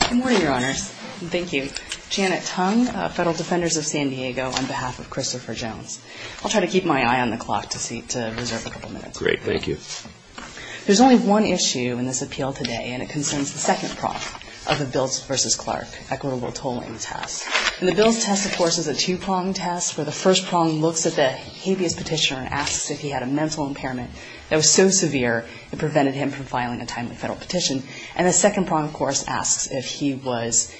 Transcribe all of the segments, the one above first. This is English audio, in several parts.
Good morning, Your Honors. Thank you. Janet Tung, Federal Defenders of San Diego, on behalf of Christopher Jones. I'll try to keep my eye on the clock to reserve a couple minutes. Great. Thank you. There's only one issue in this appeal today, and it concerns the second prong of the Biltz v. Clark equitable tolling test. And the Biltz test, of course, is a two-prong test, where the first prong looks at the habeas petitioner and asks if he had a mental impairment that was so severe it prevented him from filing a timely federal petition. And the second prong, of course, asks if he was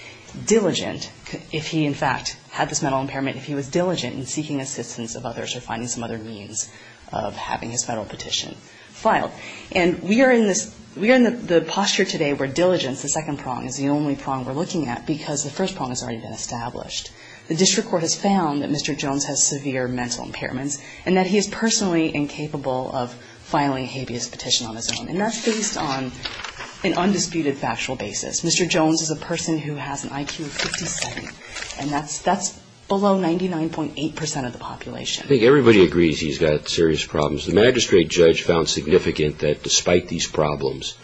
diligent, if he, in fact, had this mental impairment, if he was diligent in seeking assistance of others or finding some other means of having his federal petition filed. And we are in the posture today where diligence, the second prong, is the only prong we're looking at because the first prong has already been established. The district court has found that Mr. Jones has severe mental impairments and that he is personally incapable of filing a habeas petition on his own. And that's based on an undisputed factual basis. Mr. Jones is a person who has an IQ of 57, and that's below 99.8 percent of the population. I think everybody agrees he's got serious problems. The magistrate judge found significant that, despite these problems,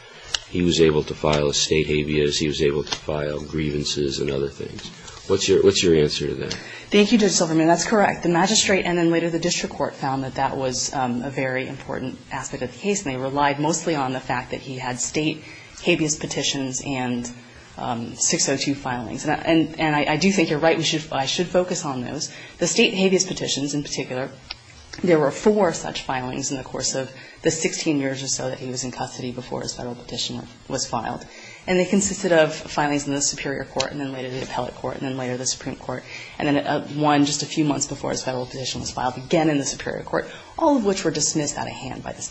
he was able to file a state habeas, he was able to file grievances and other things. What's your answer to that? Thank you, Judge Silverman. That's correct. The magistrate and then later the district court found that that was a very important aspect of the case, and they relied mostly on the fact that he had state habeas petitions and 602 filings. And I do think you're right. I should focus on those. The state habeas petitions in particular, there were four such filings in the course of the 16 years or so that he was in custody before his federal petition was filed. And they consisted of filings in the superior court and then later the appellate court and then later the Supreme Court, and then one just a few months before his federal petition was filed again in the superior court, all of which were dismissed out of hand by the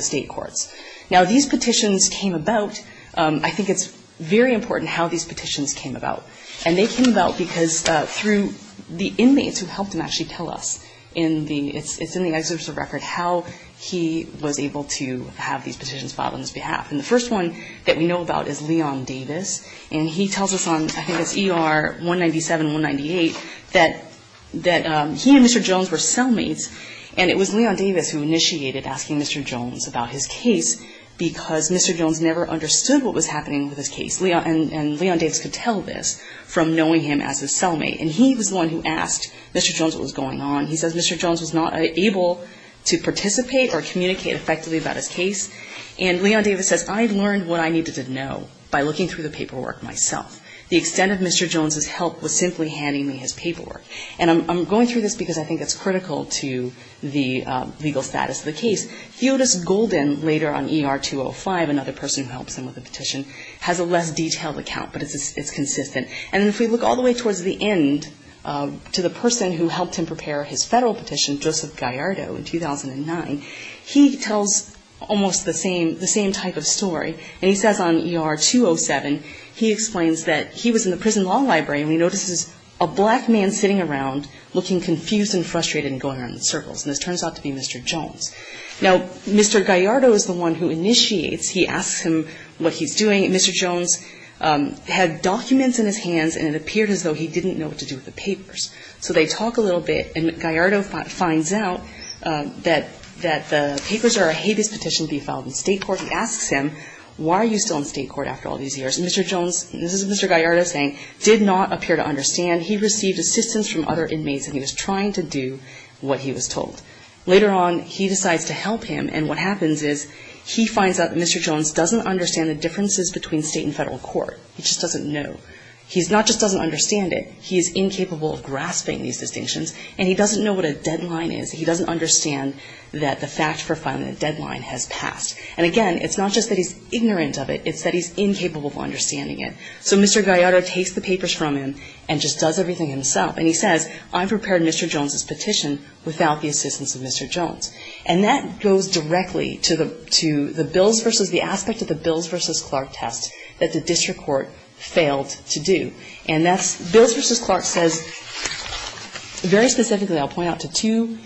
state courts. Now, these petitions came about, I think it's very important how these petitions came about. And they came about because through the inmates who helped him actually tell us in the, in the excerpt of the record how he was able to have these petitions filed on his behalf. And the first one that we know about is Leon Davis. And he tells us on, I think it's ER 197, 198, that he and Mr. Jones were cellmates. And it was Leon Davis who initiated asking Mr. Jones about his case because Mr. Jones never understood what was happening with his case. And Leon Davis could tell this from knowing him as his cellmate. And he was the one who asked Mr. Jones what was going on. He says Mr. Jones was not able to participate or communicate effectively about his case. And Leon Davis says, I learned what I needed to know by looking through the paperwork myself. The extent of Mr. Jones' help was simply handing me his paperwork. And I'm going through this because I think it's critical to the legal status of the case. Theodosia Golden, later on ER 205, another person who helps him with the petition, has a less detailed account, but it's consistent. And if we look all the way towards the end to the person who helped him prepare his Federal petition, Joseph Gallardo in 2009, he tells almost the same type of story. And he says on ER 207, he explains that he was in the prison law library and he notices a black man sitting around looking confused and frustrated and going around in circles. And this turns out to be Mr. Jones. Now, Mr. Gallardo is the one who initiates. He asks him what he's doing. And Mr. Jones had documents in his hands, and it appeared as though he didn't know what to do with the papers. So they talk a little bit, and Gallardo finds out that the papers are a habeas petition to be filed in state court. He asks him, why are you still in state court after all these years? And Mr. Jones, this is Mr. Gallardo saying, did not appear to understand. He received assistance from other inmates, and he was trying to do what he was told. Later on, he decides to help him, and what happens is he finds out that Mr. Jones doesn't understand the differences between state and Federal court. He just doesn't know. He's not just doesn't understand it. He is incapable of grasping these distinctions, and he doesn't know what a deadline is. He doesn't understand that the fact for filing a deadline has passed. And, again, it's not just that he's ignorant of it. It's that he's incapable of understanding it. So Mr. Gallardo takes the papers from him and just does everything himself. And he says, I prepared Mr. Jones's petition without the assistance of Mr. Jones. And that goes directly to the bills versus the aspect of the Bills v. Clark test that the district court failed to do. And that's Bills v. Clark says, very specifically, I'll point out to two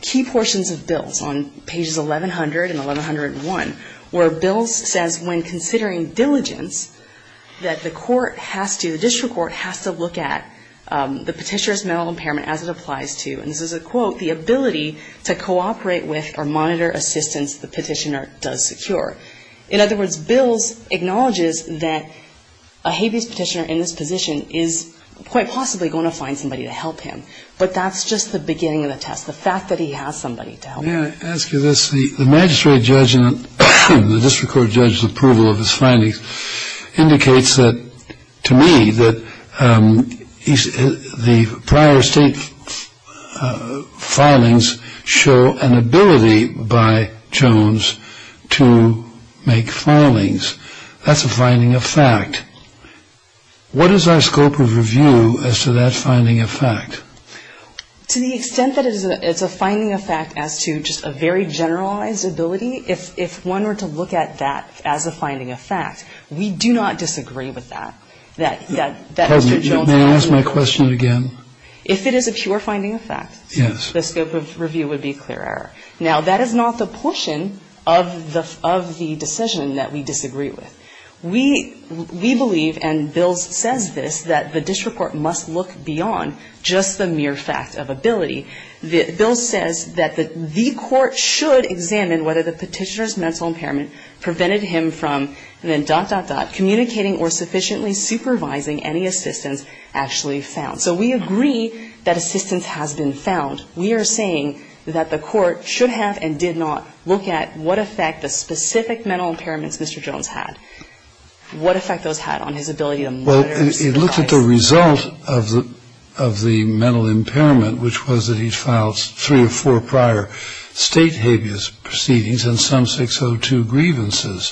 key portions of Bills on pages 1100 and 1101, where Bills says, when considering diligence, that the court has to, the district court has to look at the petitioner's mental impairment as it applies to, and this is a quote, the ability to cooperate with or monitor assistance the petitioner does secure. In other words, Bills acknowledges that a habeas petitioner in this position is quite possibly going to find somebody to help him. But that's just the beginning of the test, the fact that he has somebody to help him. May I ask you this? The magistrate judge in the district court judge's approval of his findings indicates that, to me, that the prior state filings show an ability by Jones to make filings. That's a finding of fact. What is our scope of review as to that finding of fact? To the extent that it's a finding of fact as to just a very generalized ability, if one were to look at that as a finding of fact, we do not disagree with that. That Mr. Jones' finding of fact. May I ask my question again? If it is a pure finding of fact, the scope of review would be a clear error. Now, that is not the portion of the decision that we disagree with. We believe, and Bills says this, that the district court must look beyond just the mere fact of ability. Bills says that the court should examine whether the petitioner's mental impairment prevented him from, and then dot, dot, dot, communicating or sufficiently supervising any assistance actually found. So we agree that assistance has been found. We are saying that the court should have and did not look at what effect the specific mental impairments Mr. Jones had. What effect those had on his ability to monitor. Well, it looked at the result of the mental impairment, which was that he filed three or four prior state habeas proceedings and some 602 grievances.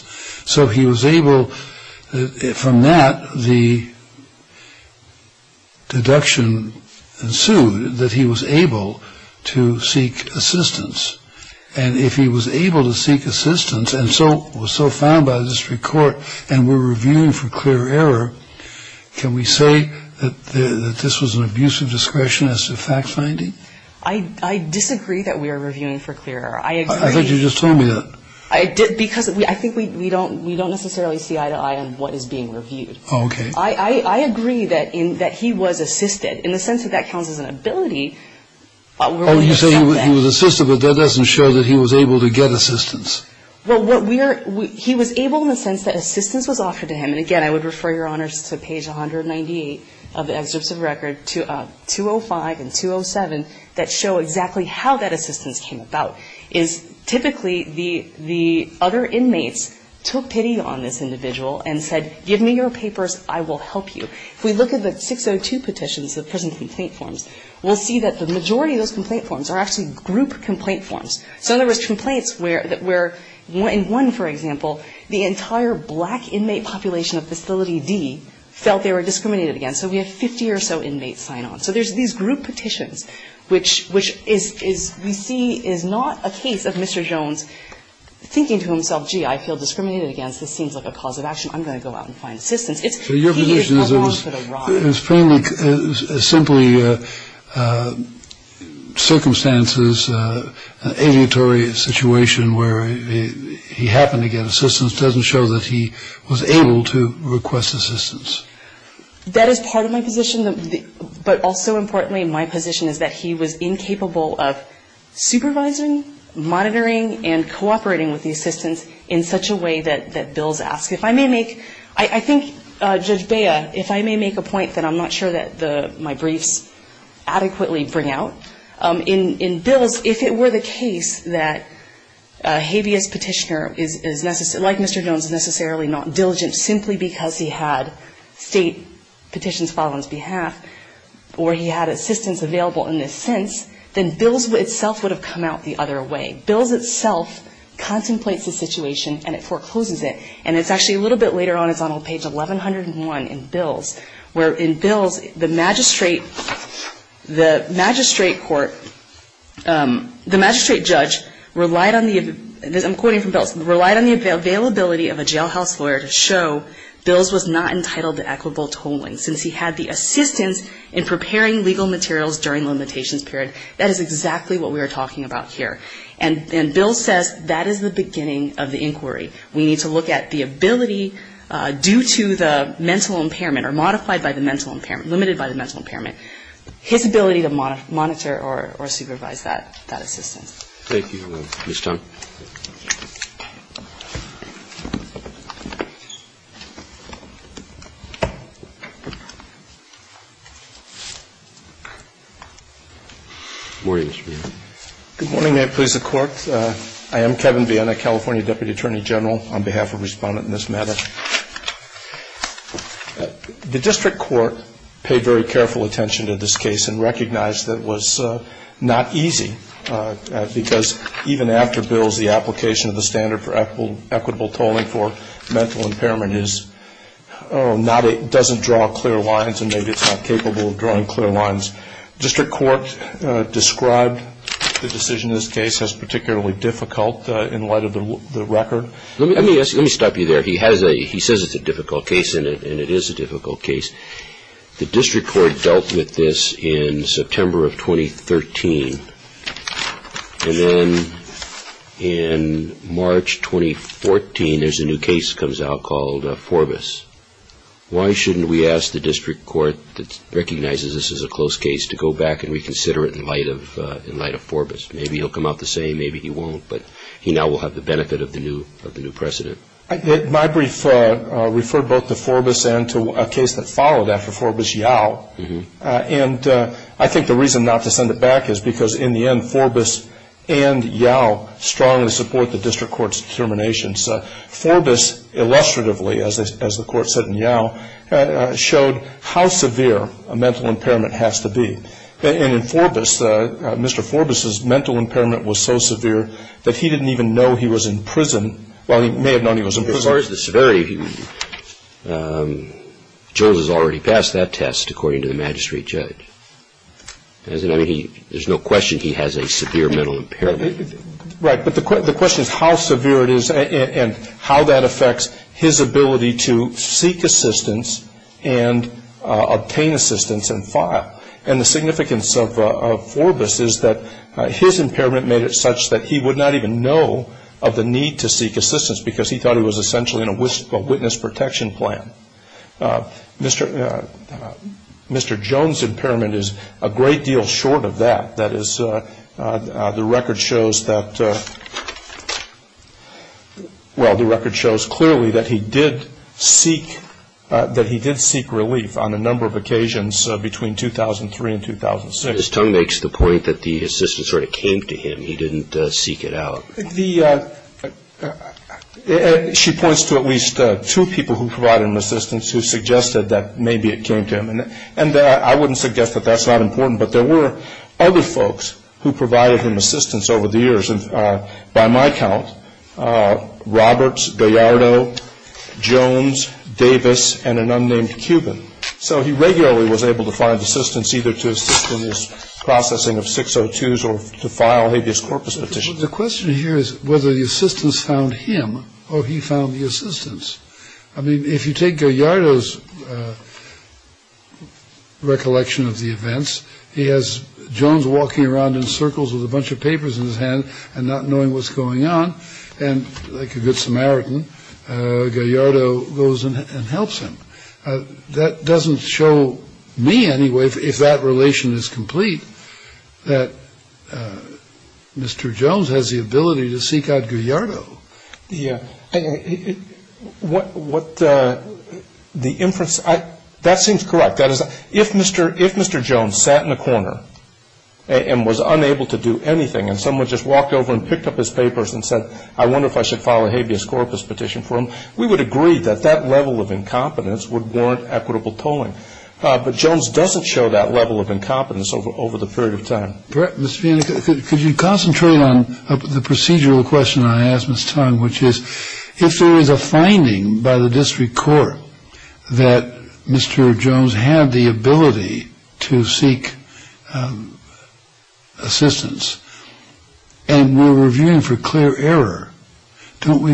So he was able, from that, the deduction ensued that he was able to seek assistance. And if he was able to seek assistance and so was so found by the district court and we're reviewing for clear error, can we say that this was an abuse of discretion as to fact finding? I disagree that we are reviewing for clear error. I agree. I thought you just told me that. Because I think we don't necessarily see eye to eye on what is being reviewed. Okay. I agree that he was assisted in the sense that that counts as an ability. Oh, you say he was assisted, but that doesn't show that he was able to get assistance. Well, what we are, he was able in the sense that assistance was offered to him. And, again, I would refer Your Honors to page 198 of the excerpts of record, 205 and 207, that show exactly how that assistance came about, is typically the other inmates took pity on this individual and said, give me your papers, I will help you. If we look at the 602 petitions, the prison complaint forms, we'll see that the majority of those complaint forms are actually group complaint forms. So there was complaints where in one, for example, the entire black inmate population of Facility D felt they were discriminated against. So we have 50 or so inmates sign on. So there's these group petitions, which we see is not a case of Mr. Jones thinking to himself, gee, I feel discriminated against. This seems like a cause of action. I'm going to go out and find assistance. It's he is along for the ride. It's simply circumstances, an aleatory situation where he happened to get assistance doesn't show that he was able to request assistance. That is part of my position. But also importantly, my position is that he was incapable of supervising, monitoring, and cooperating with the assistance in such a way that Bill's asked. I think, Judge Bea, if I may make a point that I'm not sure that my briefs adequately bring out. In Bill's, if it were the case that a habeas petitioner, like Mr. Jones, is necessarily not diligent simply because he had state petitions filed on his behalf or he had assistance available in this sense, then Bill's itself would have come out the other way. Bill's itself contemplates the situation and it forecloses it. And it's actually a little bit later on, it's on page 1101 in Bill's, where in Bill's the magistrate court, the magistrate judge relied on the, I'm quoting from Bill's, relied on the availability of a jailhouse lawyer to show Bill's was not entitled to equitable tolling since he had the assistance in preparing legal materials during limitations period. That is exactly what we are talking about here. And Bill's says that is the beginning of the inquiry. We need to look at the ability due to the mental impairment or modified by the mental impairment, limited by the mental impairment, his ability to monitor or supervise that assistance. Thank you, Ms. Tung. Good morning. May it please the Court. I am Kevin Viena, California Deputy Attorney General, on behalf of Respondent in this matter. The district court paid very careful attention to this case and recognized that it was not easy because even after Bill's, the application of the standard for equitable tolling for mental impairment doesn't draw clear lines and maybe it's not capable of drawing clear lines. District court described the decision in this case as particularly difficult in light of the record. Let me stop you there. He has a, he says it's a difficult case and it is a difficult case. The district court dealt with this in September of 2013. And then in March 2014, there's a new case that comes out called Forbus. Why shouldn't we ask the district court that recognizes this as a close case to go back and reconsider it in light of Forbus? Maybe he'll come out the same. Maybe he won't. But he now will have the benefit of the new precedent. My brief referred both to Forbus and to a case that followed after Forbus, Yao. And I think the reason not to send it back is because in the end, Forbus and Yao strongly support the district court's determination. Forbus, illustratively, as the court said in Yao, showed how severe a mental impairment has to be. And in Forbus, Mr. Forbus' mental impairment was so severe that he didn't even know he was in prison. Well, he may have known he was in prison. As far as the severity, Jules has already passed that test, according to the magistrate judge. There's no question he has a severe mental impairment. Right, but the question is how severe it is and how that affects his ability to seek assistance and obtain assistance and file. And the significance of Forbus is that his impairment made it such that he would not even know of the need to seek assistance because he thought he was essentially in a witness protection plan. Mr. Jones' impairment is a great deal short of that. That is, the record shows that, well, the record shows clearly that he did seek relief on a number of occasions between 2003 and 2006. His tongue makes the point that the assistance sort of came to him. He didn't seek it out. She points to at least two people who provided him assistance who suggested that maybe it came to him. And I wouldn't suggest that that's not important, but there were other folks who provided him assistance over the years. And by my count, Roberts, Gallardo, Jones, Davis, and an unnamed Cuban. So he regularly was able to find assistance either to assist in this processing of 602s or to file habeas corpus petitions. The question here is whether the assistance found him or he found the assistance. I mean, if you take Gallardo's recollection of the events, he has Jones walking around in circles with a bunch of papers in his hand and not knowing what's going on. And like a good Samaritan, Gallardo goes and helps him. That doesn't show me anyway, if that relation is complete, that Mr. Jones has the ability to seek out Gallardo. What the inference, that seems correct. That is, if Mr. Jones sat in a corner and was unable to do anything and someone just walked over and picked up his papers and said, I wonder if I should file a habeas corpus petition for him, we would agree that that level of incompetence would warrant equitable tolling. But Jones doesn't show that level of incompetence over the period of time. Mr. Feeney, could you concentrate on the procedural question I asked Ms. Tong, which is if there is a finding by the district court that Mr. Jones had the ability to seek assistance and we're reviewing for clear error, don't we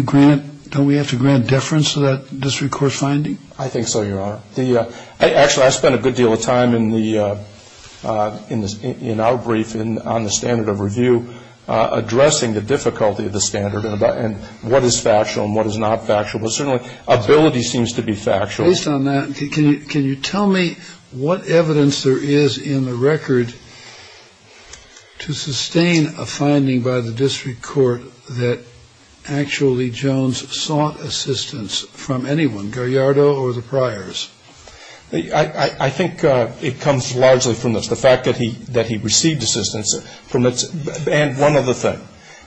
have to grant deference to that district court finding? I think so, Your Honor. Actually, I spent a good deal of time in our brief on the standard of review, addressing the difficulty of the standard and what is factual and what is not factual. But certainly ability seems to be factual. Based on that, can you tell me what evidence there is in the record to sustain a finding by the district court that actually Jones sought assistance from anyone, Gallardo or the Pryors? I think it comes largely from the fact that he received assistance and one other thing.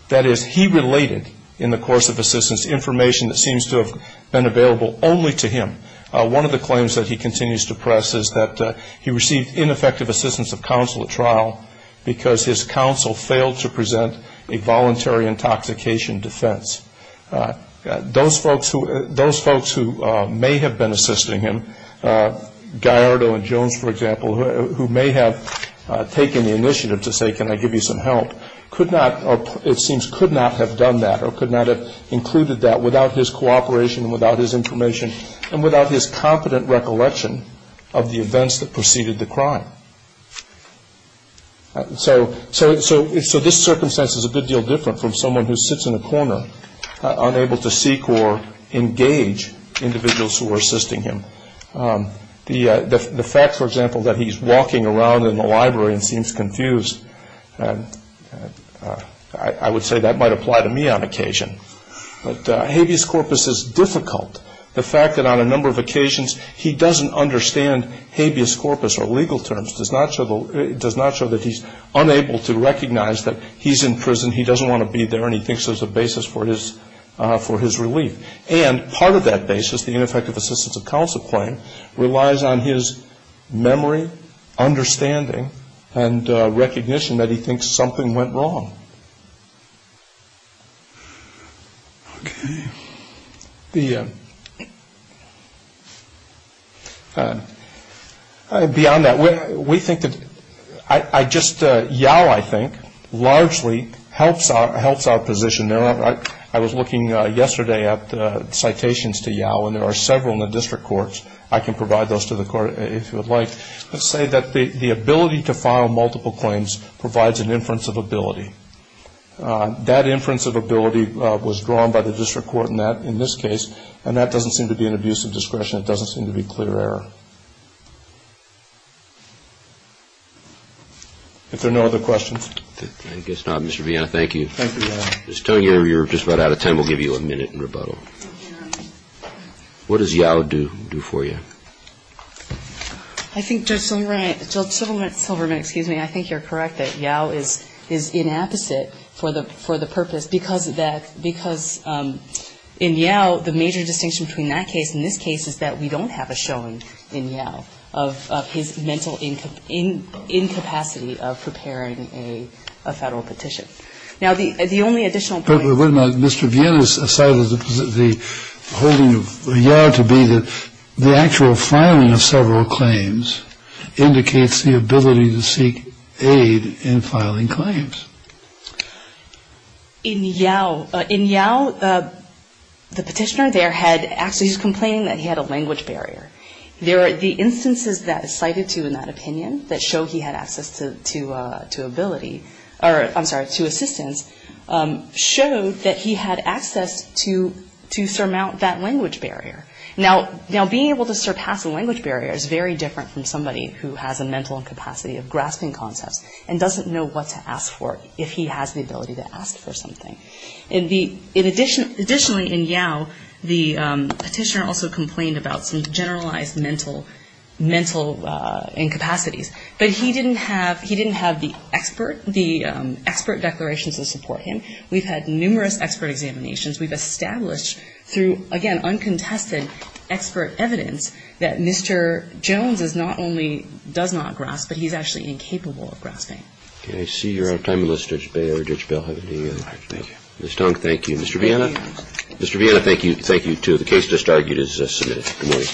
That is, he related in the course of assistance information that seems to have been available only to him. One of the claims that he continues to press is that he received ineffective assistance of counsel at trial because his counsel failed to present a voluntary intoxication defense. Those folks who may have been assisting him, Gallardo and Jones, for example, who may have taken the initiative to say, can I give you some help, could not or it seems could not have done that or could not have included that without his cooperation and without his information and without his competent recollection of the events that preceded the crime. So this circumstance is a good deal different from someone who sits in a corner, unable to seek or engage individuals who are assisting him. The fact, for example, that he's walking around in the library and seems confused, I would say that might apply to me on occasion. But habeas corpus is difficult. The fact that on a number of occasions he doesn't understand habeas corpus or legal terms does not show that he's unable to recognize that he's in prison, he doesn't want to be there, and he thinks there's a basis for his relief. And part of that basis, the ineffective assistance of counsel claim, relies on his memory, understanding, and recognition that he thinks something went wrong. Okay. Beyond that, we think that I just, YOW, I think, largely helps our position. I was looking yesterday at citations to YOW, and there are several in the district courts. I can provide those to the court if you would like. Let's say that the ability to file multiple claims provides an inference of ability. That inference of ability was drawn by the district court in this case, and that doesn't seem to be an abuse of discretion. It doesn't seem to be clear error. If there are no other questions. I guess not. Mr. Vianna, thank you. Thank you, Your Honor. What does YOW do for you? I think Judge Silverman, excuse me, I think you're correct that YOW is inapposite for the purpose because that, because in YOW, the major distinction between that case and this case is that we don't have a showing in YOW of his mental incapacity of preparing a Federal petition. Now, the only additional point. Mr. Vianna cited the holding of YOW to be the actual filing of several claims indicates the ability to seek aid in filing claims. In YOW, the petitioner there had actually, he was complaining that he had a language barrier. There are the instances that are cited to in that opinion that show he had access to ability, or I'm sorry, to assistance, showed that he had access to surmount that language barrier. Now, being able to surpass a language barrier is very different from somebody who has a mental incapacity of grasping concepts and doesn't know what to ask for if he has the ability to ask for something. Additionally, in YOW, the petitioner also complained about some generalized mental incapacities, but he didn't have, he didn't have the expert, the expert declarations to support him. We've had numerous expert examinations. We've established through, again, uncontested expert evidence that Mr. Jones is not only, does not grasp, but he's actually incapable of grasping. Roberts. I see you're out of time. Let's just bail or ditch Bill. Thank you. Ms. Tong, thank you. Mr. Vianna? Mr. Vianna, thank you. Thank you, too. The case just argued is submitted. Good morning.